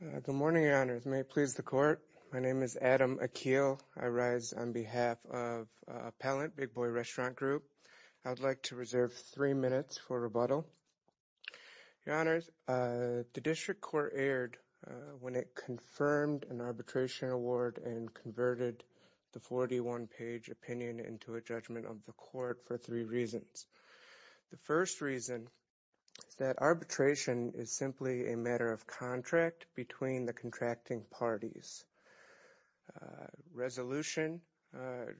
Good morning, Your Honors. May it please the Court, my name is Adam Akeel. I rise on behalf of Appellant, Big Boy Restaurant Group. I would like to reserve three minutes for rebuttal. Your Honors, the District Court erred when it confirmed an arbitration award and converted the 41-page opinion into a judgment of the Court for three reasons. The first reason that arbitration is simply a matter of contract between the contracting parties.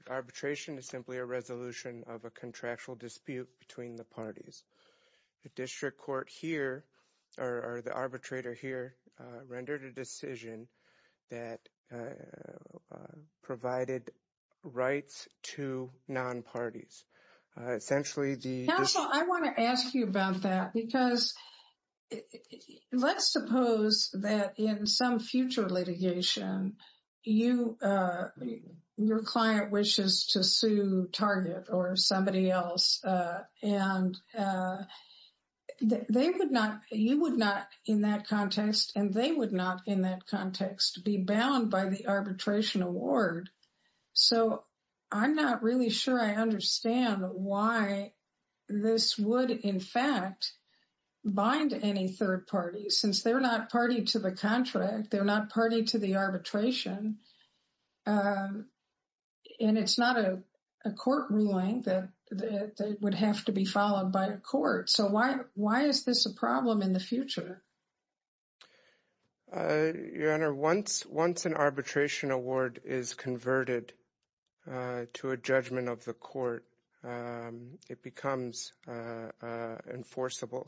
Arbitration is simply a resolution of a contractual dispute between the parties. The District Court here, or the arbitrator here, rendered a decision that provided rights to non-parties. Essentially, the... Counsel, I want to ask you about that, because let's suppose that in some future litigation, your client wishes to sue Target or somebody else, and you would not, in that context, and they would not, in that context, be bound by the arbitration award. So, I'm not really sure I understand why this would, in fact, bind any third party, since they're not party to the contract, they're not party to the arbitration. And it's not a court ruling that would have to be followed by a court. So, why is this a problem in the future? Your Honor, once an arbitration award is converted to a judgment of the court, it becomes enforceable.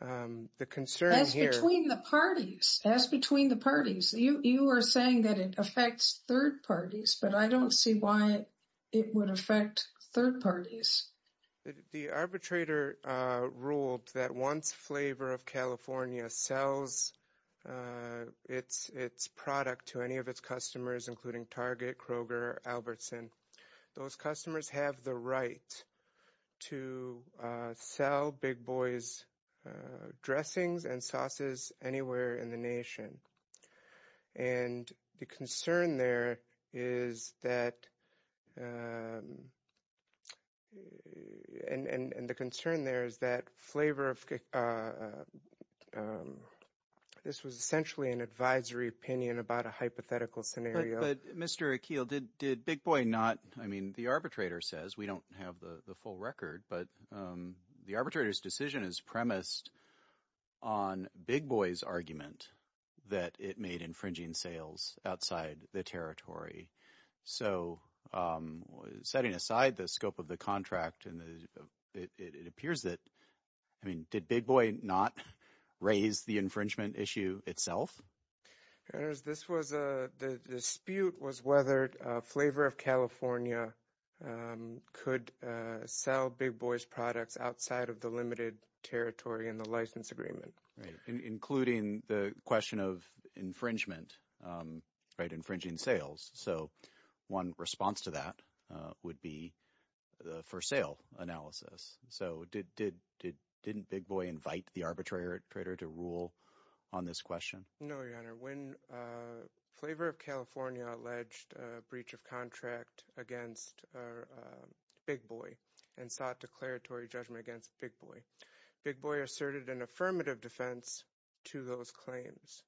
The concern here... That's between the parties. That's between the parties. You are saying that it affects third parties, but I don't see why it would affect third parties. The arbitrator ruled that once Flavor of California sells its product to any of its customers, including Target, Kroger, Albertson, those customers have the right to sell Big Boy's dressings and sauces anywhere in the nation. And the concern there is that Flavor of... This was essentially an advisory opinion about a hypothetical scenario. But Mr. Akil, did Big Boy not... I mean, the arbitrator says, we don't have the full record, but the arbitrator's decision is premised on Big Boy's argument that it made infringing sales outside the territory. So, setting aside the scope of the contract, it appears that... I mean, did Big Boy not raise the infringement issue itself? Your Honor, the dispute was whether Flavor of California could sell Big Boy's products outside of the limited territory in the license agreement. Including the question of infringement, infringing sales. So, one response to that would be the for sale analysis. So, didn't Big Boy invite the arbitrator to rule on this question? No, Your Honor. When Flavor of California alleged a breach of contract against Big Boy and sought declaratory judgment against Big Boy, Big Boy asserted an affirmative defense to those claims.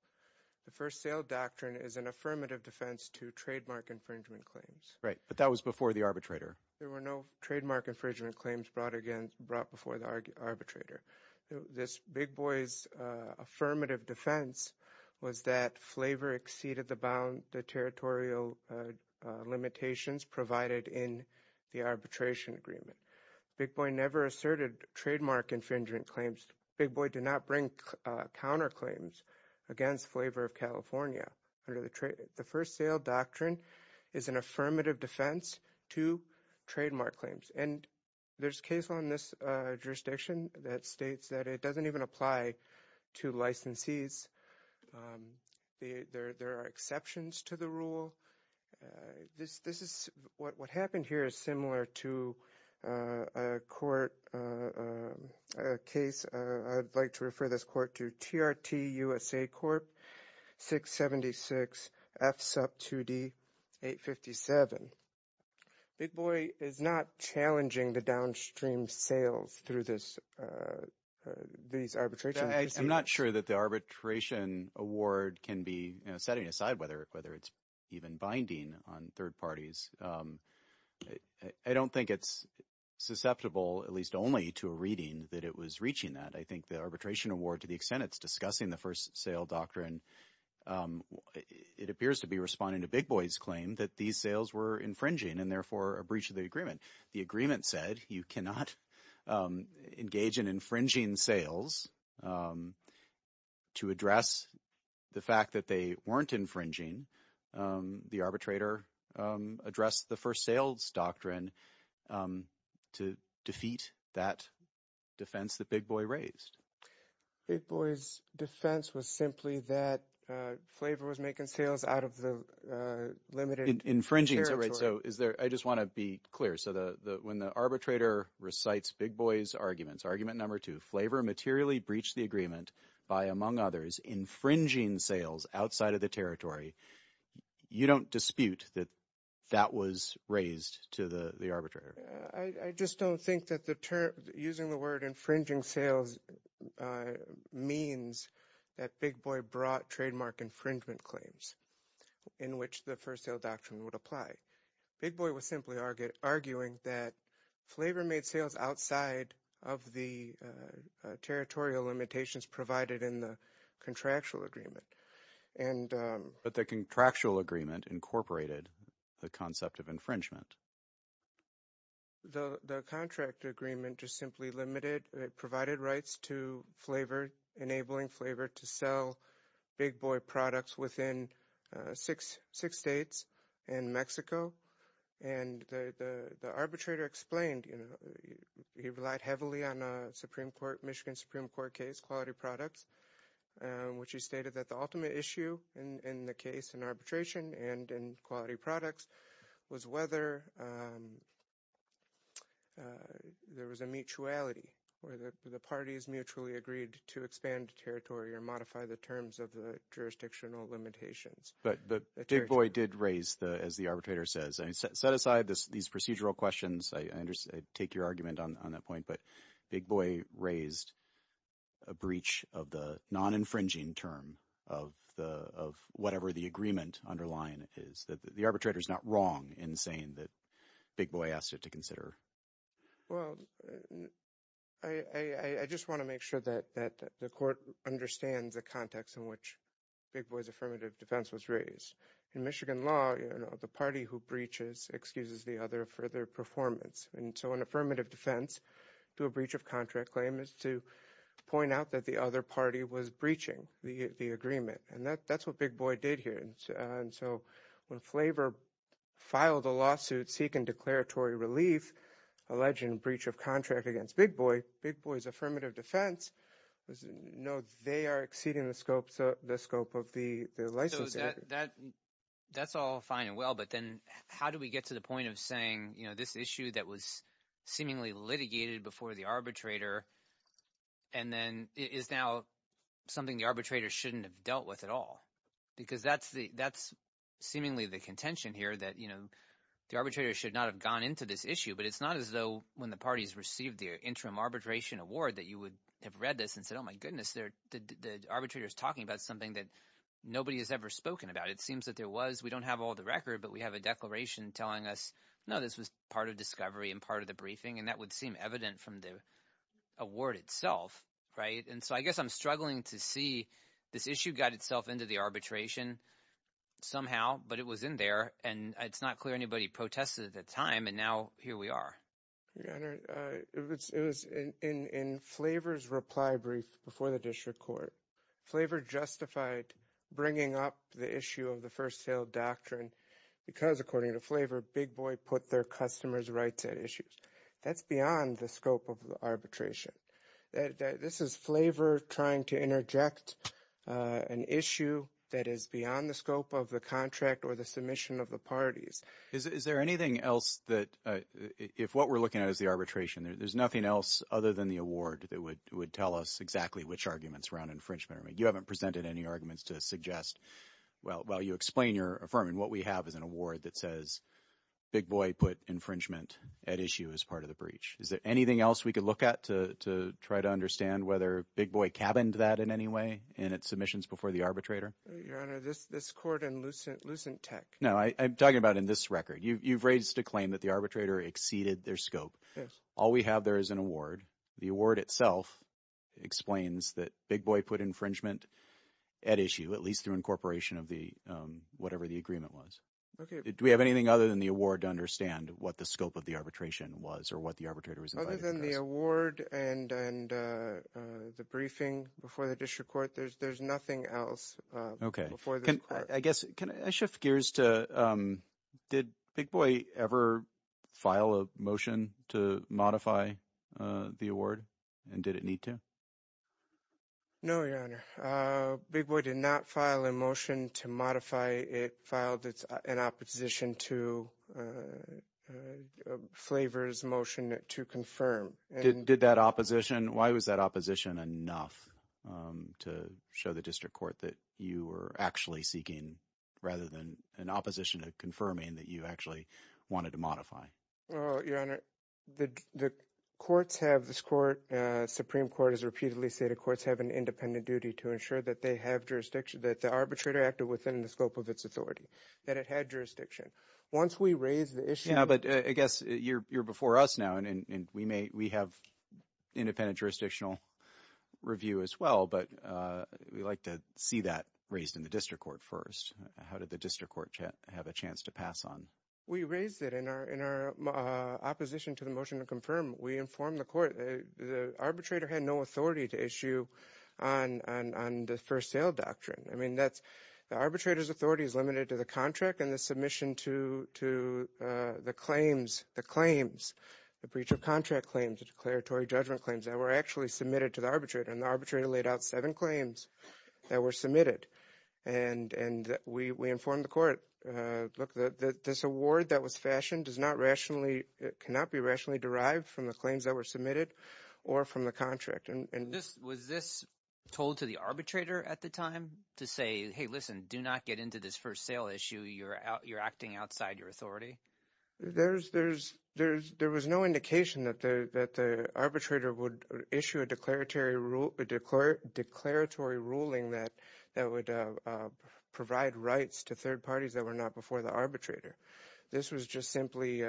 The first sale doctrine is an affirmative defense to trademark infringement claims. Right. But that was before the arbitrator. There were no trademark infringement claims brought before the arbitrator. This Big Boy's affirmative defense was that Flavor exceeded the territorial limitations provided in the arbitration agreement. Big Boy never asserted trademark infringement claims. Big Boy did not bring counterclaims against Flavor of California. The first sale doctrine is an affirmative defense to trademark claims. And there's a case on this jurisdiction that states that it doesn't even apply to licensees. There are exceptions to the rule. What happened here is similar to a court case. I'd like to refer this court to TRT USA Corp. 676 F SUP 2D 857. Big Boy is not challenging the downstream sales through these arbitrations. I'm not sure that the arbitration award can be setting aside whether it's even binding on third parties. I don't think it's susceptible, at least only to a reading, that it was reaching that. I think the arbitration award, to the extent it's discussing the first sale doctrine, it appears to be responding to Big Boy's claim that these sales were infringing and therefore a breach of the agreement. The agreement said you cannot engage in infringing sales to address the fact that they weren't infringing. The arbitrator addressed the first sales doctrine to defeat that defense that Big Boy raised. Big Boy's defense was simply that Flavor was making sales out of the limited territory. I just want to be clear. When the arbitrator recites Big Boy's argument, argument number two, Flavor materially breached the agreement by, among others, infringing sales outside of the territory, you don't dispute that that was raised to the arbitrator? I just don't think that using the word infringing sales means that Big Boy brought infringement claims in which the first sale doctrine would apply. Big Boy was simply arguing that Flavor made sales outside of the territorial limitations provided in the contractual agreement. But the contractual agreement incorporated the concept of infringement. The contract agreement just simply limited, provided rights to Flavor, enabling Flavor to sell Big Boy products within six states and Mexico. And the arbitrator explained, he relied heavily on a Supreme Court, Michigan Supreme Court case, Quality Products, which he stated that the ultimate issue in the case in arbitration and in Quality Products was whether there was a mutuality where the parties mutually agreed to expand territory or modify the jurisdictional limitations. But Big Boy did raise, as the arbitrator says, set aside these procedural questions. I take your argument on that point. But Big Boy raised a breach of the non-infringing term of whatever the agreement underlying is that the arbitrator is not wrong in saying that Big Boy asked it to consider. Well, I just want to make sure that the court understands the context in which Big Boy's affirmative defense was raised. In Michigan law, you know, the party who breaches excuses the other for their performance. And so an affirmative defense to a breach of contract claim is to point out that the other party was breaching the agreement. And that's what Big Boy did here. And so when Flavor filed a lawsuit seeking declaratory relief alleging breach of contract against Big Boy, Big Boy's affirmative defense was no, they are exceeding the scope of the licensee. So that's all fine and well. But then how do we get to the point of saying, you know, this issue that was seemingly litigated before the arbitrator and then is now something the arbitrator shouldn't have dealt with at all? Because that's seemingly the contention here that, you know, the arbitrator should not have gone into this issue. But it's not as though when the parties received the interim arbitration award that you would have read this and said, oh, my goodness, the arbitrator is talking about something that nobody has ever spoken about. It seems that there was we don't have all the record, but we have a declaration telling us, no, this was part of discovery and part of the briefing. And that would seem evident from the award itself. Right. And so I guess I'm struggling to see this issue got itself into the arbitration somehow, but it was in there and it's not clear anybody protested at the time. And now here we are. It was in Flavor's reply brief before the district court. Flavor justified bringing up the issue of the first sale doctrine because according to Flavor, Big Boy put their customers rights at issues. That's beyond the scope of the arbitration. This is Flavor trying to interject an issue that is beyond the scope of the contract or the submission of the parties. Is there anything else that if what we're looking at is the arbitration, there's nothing else other than the award that would tell us exactly which arguments around infringement. I mean, you haven't presented any arguments to suggest. Well, while you explain your affirming, what we have is an award that says Big Boy put infringement at issue as part of the breach. Is there anything else we could look at to try to understand whether Big Boy cabined that in any way in its submissions before the arbitrator? Your Honor, this court and Lucent Tech. No, I'm talking about in this record. You've raised a claim that the arbitrator exceeded their scope. Yes. All we have there is an award. The award itself explains that Big Boy put infringement at issue, at least through incorporation of the whatever the agreement was. Okay. Do we have anything other than the award to understand what the scope of the arbitration was or what the arbitrator was invited to address? Other than the award and the briefing before the district court, there's nothing else. Okay. Can I shift gears to did Big Boy ever file a motion to modify the award and did it need to? No, Your Honor. Big Boy did not file a motion to modify it. It filed an opposition to Flavors motion to confirm. Did that opposition? Why was that opposition enough to show the district court that you were actually seeking rather than an opposition to confirming that you actually wanted to modify? Your Honor, the courts have this court, Supreme Court has repeatedly said the courts have an independent duty to ensure that they have jurisdiction, that the arbitrator acted within the scope of its authority, that it had jurisdiction. Once we raise the issue- Yeah, but I guess you're before us now and we have independent jurisdictional review as well, but we'd like to see that raised in the district court first. How did the district court have a chance to pass on? We raised it in our opposition to the motion to confirm. We informed the court, the arbitrator had no authority to issue on the first sale doctrine. I mean, the arbitrator's authority is limited to the contract and the submission to the claims, the breach of contract claims, the declaratory judgment claims that were actually submitted to the arbitrator and the word that was fashioned cannot be rationally derived from the claims that were submitted or from the contract. Was this told to the arbitrator at the time to say, hey, listen, do not get into this first sale issue, you're acting outside your authority? There was no indication that the arbitrator would issue a declaratory ruling that would provide rights to third parties that were not before the arbitrator. This was just simply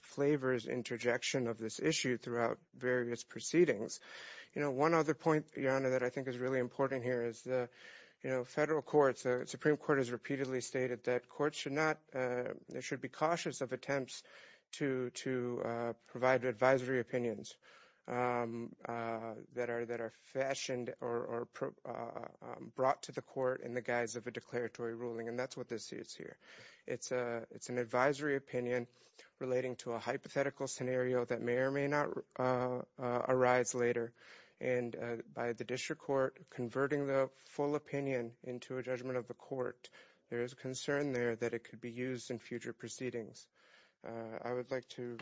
flavors interjection of this issue throughout various proceedings. One other point, Your Honor, that I think is really important here is the federal courts, the Supreme Court has repeatedly stated that courts should be cautious of attempts to provide advisory opinions that are fashioned or brought to the court in the guise of a declaratory ruling, and that's what this is here. It's an advisory opinion relating to a hypothetical scenario that may or may not arise later, and by the district court converting the full opinion into a judgment of the court, there is a concern there that it could be used in future proceedings. I would like to...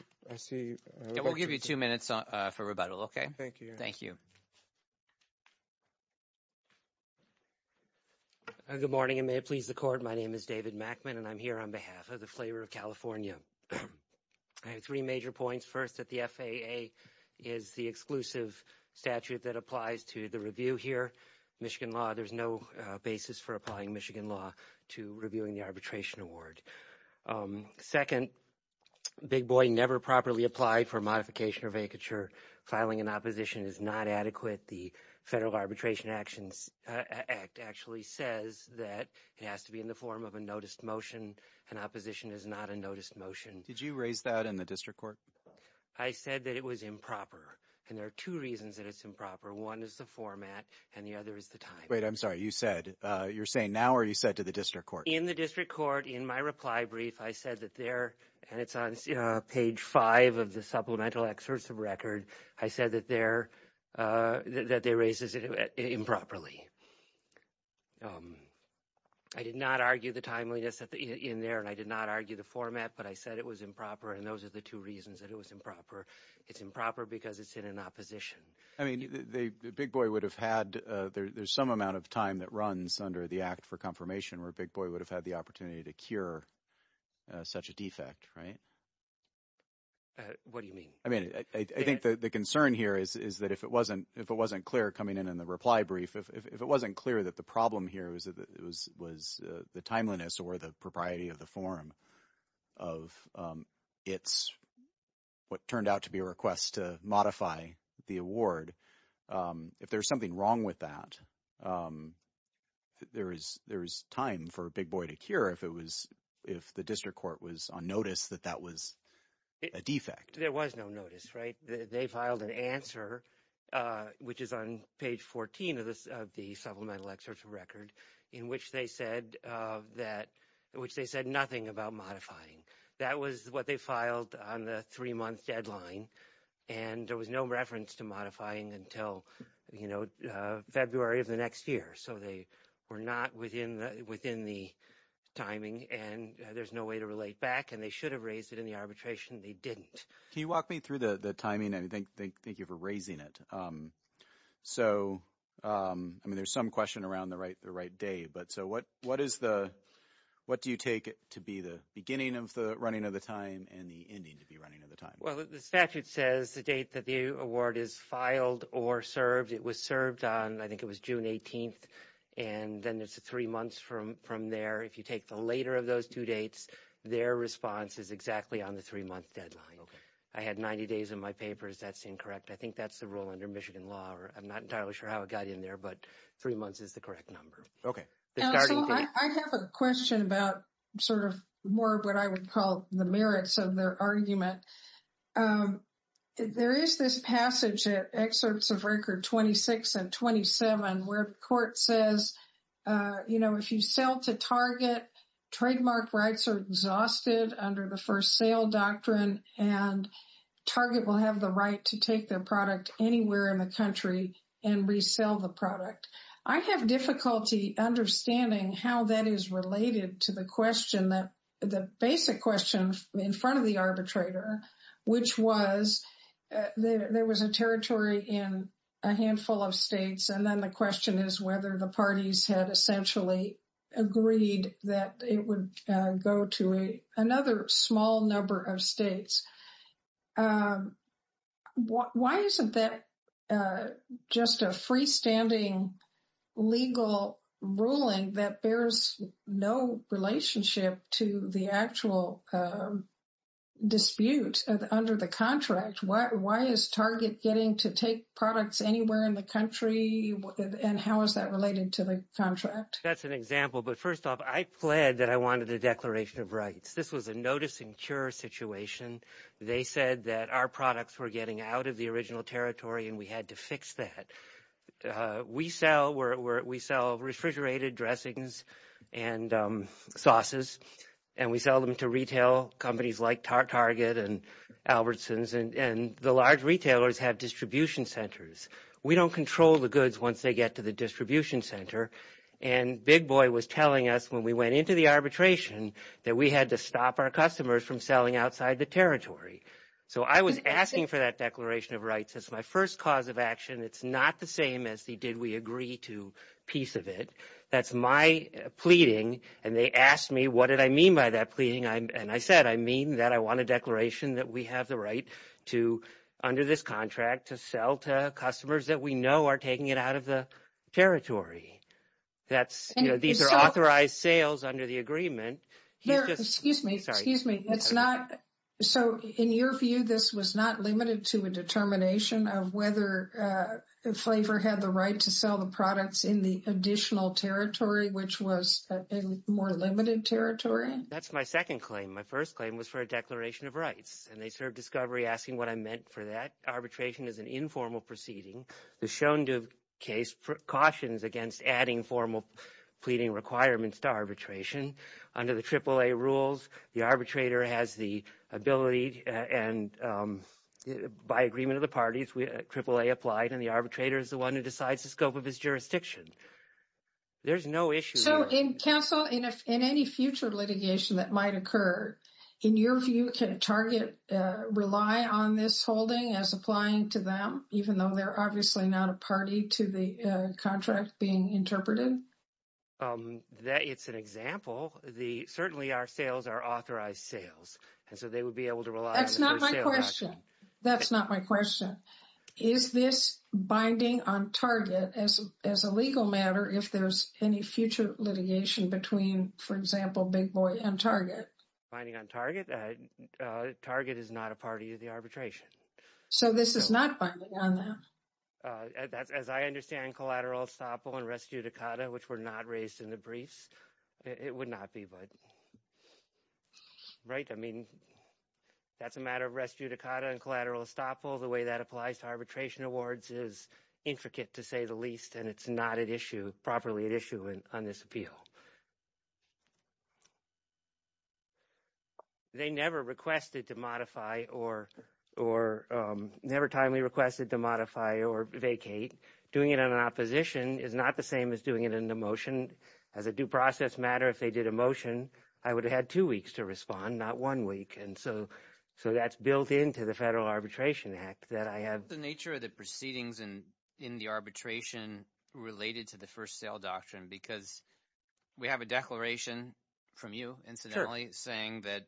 We'll give you two minutes for rebuttal, okay? Thank you, Your Honor. Thank you. Good morning, and may it please the court. My name is David Mackman, and I'm here on behalf of the Flavor of California. I have three major points. First, that the FAA is the exclusive statute that applies to the review here, Michigan law. There's no basis for applying Michigan law to reviewing the arbitration award. Second, Big Boy never properly applied for modification or vacature. Filing an opposition is not adequate. The Federal Arbitration Act actually says that it has to be in the form of a noticed motion, and opposition is not a noticed motion. Did you raise that in the district court? I said that it was improper, and there are two reasons that it's improper. One is the format, and the other is the time. Wait, I'm sorry. You're saying now, or you said to the district court? In the district court, in my reply brief, I said that there... And it's on page five of the supplemental excerpt of record. I said that they raised it improperly. I did not argue the timeliness in there, and I did not argue the format, but I said it was improper, and those are the two reasons that it was improper. It's improper because it's in an opposition. I mean, Big Boy would have had... There's some amount of time that runs under the Act for Confirmation where Big Boy would have had the opportunity to cure such a defect, right? What do you mean? I mean, I think the concern here is that if it wasn't clear coming in in the reply brief, if it wasn't clear that the problem here was the timeliness or the propriety of the form of what turned out to be a request to modify the award, if there's something wrong with that, there's time for Big Boy to cure if the district court was on notice that that was a defect. There was no notice, right? They filed an answer, which is on page 14 of the supplemental record, in which they said nothing about modifying. That was what they filed on the three-month deadline, and there was no reference to modifying until February of the next year. So they were not within the timing, and there's no way to relate back, and they should have raised it in the arbitration. They didn't. Can you walk me through the timing? I mean, thank you for raising it. So, I mean, there's some question around the right day, but so what do you take to be the beginning of the running of the time and the ending to be running of the time? Well, the statute says the date that the award is filed or served. It was served on, I think it was June 18th, and then it's three months from there. If you take the later of those two dates, their response is exactly on the three-month deadline. Okay. I had 90 days in my papers. That's incorrect. I think that's the rule under Michigan law. I'm not entirely sure how it got in there, but three months is the correct number. I have a question about sort of more of what I would call the merits of their argument. There is this passage at excerpts of record 26 and 27 where the court says, you know, if you sell to target, trademark rights are exhausted under the first sale doctrine, and target will have the right to take their product anywhere in the country and resell the product. I have difficulty understanding how that is related to the question that, the basic question in front of the arbitrator, which was there was a territory in a handful of states. And then the question is whether the parties had essentially agreed that it would go to another small number of states. Why isn't that just a freestanding legal ruling that bears no relationship to the actual dispute under the contract? Why is target getting to take products anywhere in the country? And how is that related to the contract? That's an example. But first off, I pled that I wanted a declaration of rights. This was a notice and cure situation. They said that our products were getting out of the original territory and we had to fix that. We sell refrigerated dressings and sauces, and we sell them to retail companies like Target and Albertsons. And the large retailers have distribution centers. We don't control the goods once they get to the distribution center. And Big Boy was telling us when we went into the arbitration that we had to stop our customers from selling outside the territory. So I was asking for that declaration of rights as my first cause of action. It's not the same as the did we agree to piece of it. That's my pleading. And they asked me, what did I mean by that pleading? And I said, I mean that I want a declaration that we have the right to, under this contract, to sell to customers that we know are taking it out of the territory. That's, you know, these are authorized sales under the agreement. They're, excuse me, excuse me. That's not, so in your view, this was not limited to a determination of whether Flavor had the right to sell the products in the additional territory, which was a more limited territory? That's my second claim. My first claim was for a declaration of rights. And they served asking what I meant for that. Arbitration is an informal proceeding. The Shonda case cautions against adding formal pleading requirements to arbitration. Under the AAA rules, the arbitrator has the ability and by agreement of the parties, AAA applied and the arbitrator is the one who decides the scope of his jurisdiction. There's no issue. So in counsel, in any future litigation that might occur, in your view, can a target rely on this holding as applying to them, even though they're obviously not a party to the contract being interpreted? It's an example. Certainly, our sales are authorized sales. And so they would be able to rely on the first sale action. That's not my question. That's not my question. Is this binding on target as a legal matter, if there's any future litigation between, for example, Big Boy and Target? Binding on target? Target is not a party to the arbitration. So this is not binding on that? As I understand collateral estoppel and res judicata, which were not raised in the briefs, it would not be. But right. I mean, that's a matter of res judicata and collateral estoppel. The way that applies to arbitration awards is intricate, to say the least. And it's not at issue properly at issue on this appeal. They never requested to modify or never timely requested to modify or vacate. Doing it on an opposition is not the same as doing it in a motion. As a due process matter, if they did a motion, I would have had two weeks to respond, not one week. And so that's built into the Federal Arbitration Act that I have. The nature of the proceedings and in the arbitration related to the first sale doctrine, because we have a declaration from you, incidentally, saying that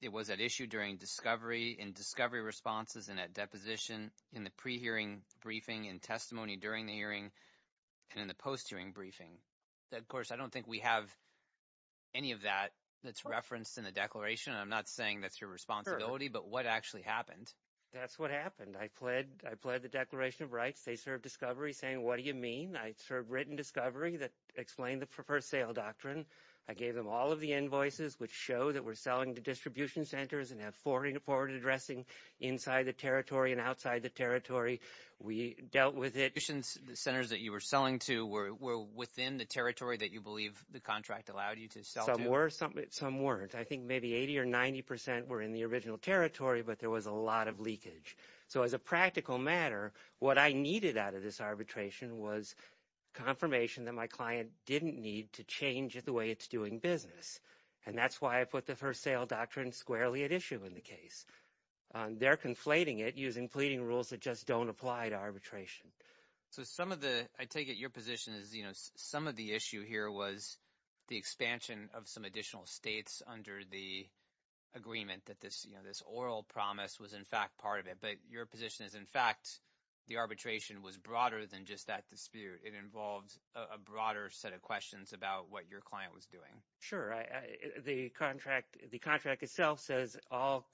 it was at issue during discovery and discovery responses and at deposition in the pre-hearing briefing and testimony during the hearing and in the post-hearing briefing. Of course, I don't think we have any of that that's referenced in the declaration. I'm not saying that's your responsibility, but what actually happened? That's what happened. I pled the Declaration of Rights. They served discovery saying, what do you mean? I served written discovery that explained the first sale doctrine. I gave them all of the invoices which show that we're selling to distribution centers and have forward addressing inside the territory and outside the territory. We dealt with it. Distribution centers that you were selling to were within the territory that you believe the contract allowed you to sell to? Some were, some weren't. I think maybe 80 or 90 percent were in the original territory, but there was a lot of leakage. As a practical matter, what I needed out of this arbitration was confirmation that my client didn't need to change the way it's doing business. That's why I put the first sale doctrine squarely at issue in the case. They're conflating it using pleading rules that just don't apply to arbitration. I take it your position is some of the issue here was the expansion of some additional states under the agreement that this oral promise was, in fact, part of it. Your position is, in fact, the arbitration was broader than just that dispute. It involved a broader set of questions about what your client was doing. Sure. The contract itself says all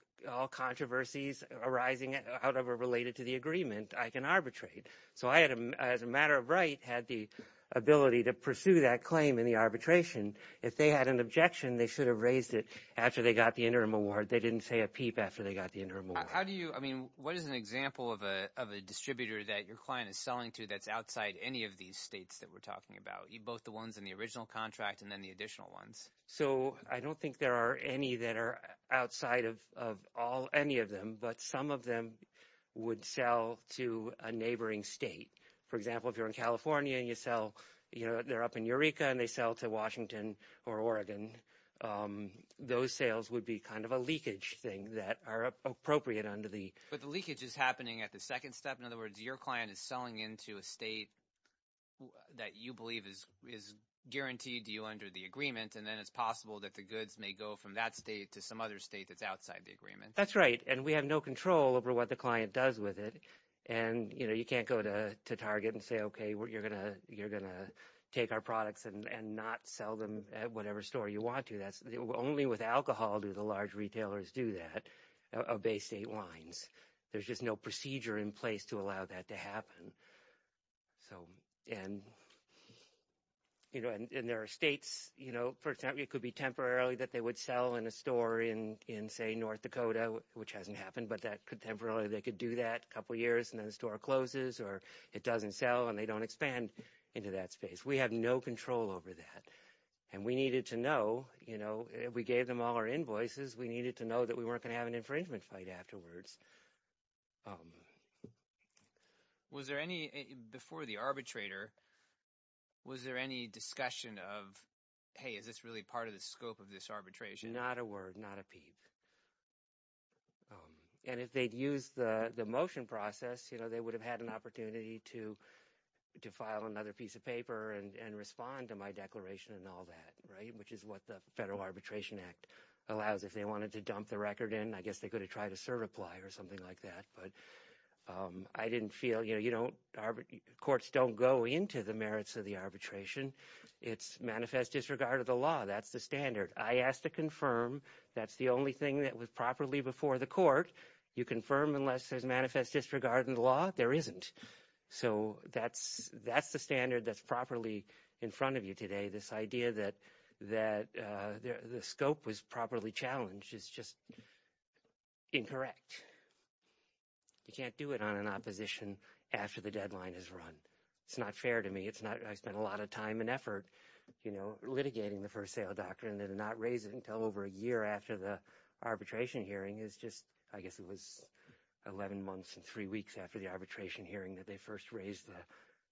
controversies arising out of or related to the agreement, I can arbitrate. I, as a matter of right, had the ability to pursue that claim in the arbitration. If they had an objection, they should have raised it after they got the interim award. They didn't say a peep after they got the interim award. How do you, I mean, what is an example of a distributor that your client is selling to that's outside any of these states that we're talking about, both the ones in the original contract and then the additional ones? So, I don't think there are any that are outside of all, any of them, but some of them would sell to a neighboring state. For example, if you're in California and you sell, you know, they're up in Eureka and they sell to Washington or Oregon, those sales would be kind of a leakage thing that are appropriate under the- But the leakage is happening at the second step. In other words, your client is selling into a state that you believe is guaranteed to you under the agreement, and then it's possible that the goods may go from that state to some other state that's outside the agreement. That's right. And we have no control over what the client does with it. And, you know, and not sell them at whatever store you want to. Only with alcohol do the large retailers do that, of Bay State wines. There's just no procedure in place to allow that to happen. So, and, you know, and there are states, you know, for example, it could be temporarily that they would sell in a store in, say, North Dakota, which hasn't happened, but that could temporarily, they could do that a couple of years and then the store closes or it doesn't sell and they don't expand into that space. We have no control over that. And we needed to know, you know, we gave them all our invoices. We needed to know that we weren't going to have an infringement fight afterwards. Was there any, before the arbitrator, was there any discussion of, hey, is this really part of the scope of this arbitration? Not a word, not a peep. And if they'd used the motion process, you know, they would have had an opportunity to file another piece of paper and respond to my declaration and all that, right, which is what the Federal Arbitration Act allows. If they wanted to dump the record in, I guess they could have tried a cert apply or something like that. But I didn't feel, you know, courts don't go into the merits of the arbitration. It's manifest disregard of the law. That's the standard. I asked to confirm. That's the only thing that was properly before the court. You confirm unless there's manifest disregard in the law, there isn't. So that's the standard that's properly in front of you today, this idea that the scope was properly challenged is just incorrect. You can't do it on an opposition after the deadline is run. It's not fair to me. It's not, I spent a lot of time and effort, you know, litigating the first sale doctrine and then not raise it until over a year after the arbitration hearing is just, I guess it was 11 months and three weeks after the arbitration hearing that they first raised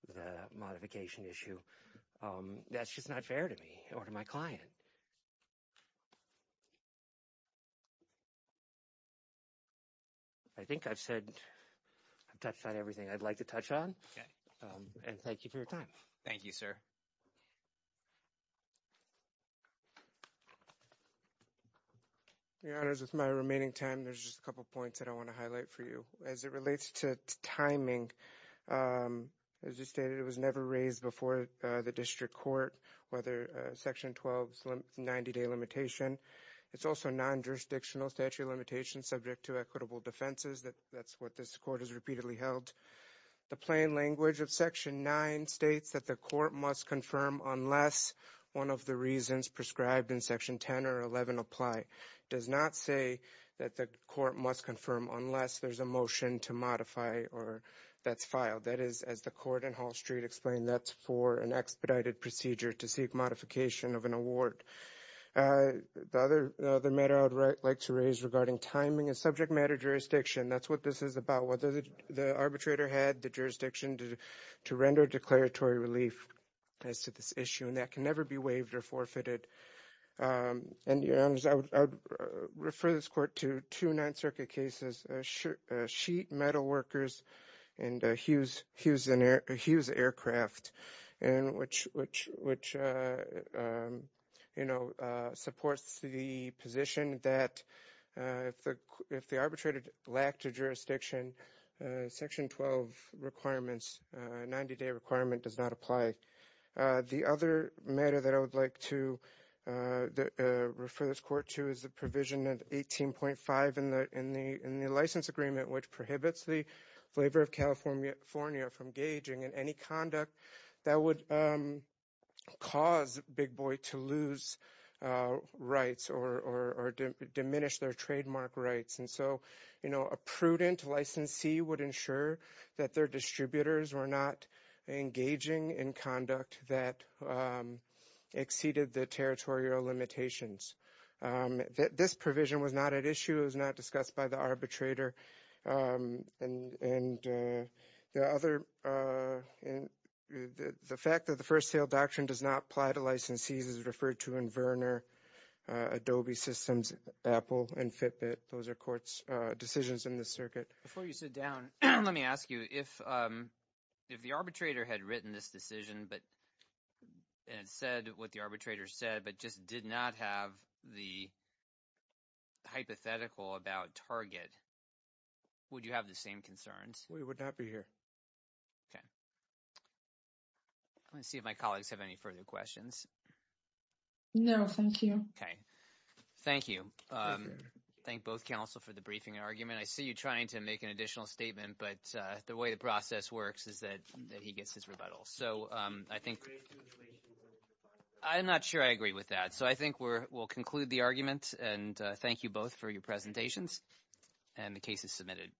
the modification issue. That's just not fair to me or to my client. I think I've said, I've touched on everything I'd like to touch on. And thank you for your time. Thank you, sir. Your Honors, with my remaining time, there's just a couple points that I want to highlight for you. As it relates to timing, as you stated, it was never raised before the district court, whether Section 12's 90-day limitation. It's also non-jurisdictional statute limitations subject to equitable defenses. That's what this court has repeatedly held. The plain language of Section 9 states that the court must confirm unless one of the reasons is a motion to modify or that's filed. That is, as the court in Hall Street explained, that's for an expedited procedure to seek modification of an award. The other matter I would like to raise regarding timing is subject matter jurisdiction. That's what this is about, whether the arbitrator had the jurisdiction to render declaratory relief as to this issue, and that can never be waived or forfeited. And, Your Honors, I would refer this court to two Ninth Circuit cases, Sheet, Metal Workers, and Hughes Aircraft, which, you know, supports the position that if the arbitrator lacked a jurisdiction, Section 12 requirements, 90-day requirement does not apply. The other matter that I would like to refer this court to is the provision of 18.5 in the license agreement, which prohibits the flavor of California from gauging in any conduct that would cause Big Boy to lose rights or diminish their trademark rights. And so, you know, a prudent licensee would ensure that their distributors were not engaging in conduct that exceeded the territorial limitations. This provision was not at issue. It was not discussed by the arbitrator. And the fact that the first sale doctrine does not apply to licensees referred to in Verner, Adobe Systems, Apple, and Fitbit, those are court's decisions in the circuit. Before you sit down, let me ask you, if the arbitrator had written this decision, and said what the arbitrator said, but just did not have the hypothetical about Target, would you have the same concerns? We would not be here. Okay. Let me see if my colleagues have any further questions. No, thank you. Okay. Thank you. Thank both counsel for the briefing argument. I see you trying to make an additional statement, but the way the process works is that he gets his rebuttal. So, I think I'm not sure I agree with that. So, I think we'll conclude the argument, and thank you both for your presentations, and the case is submitted.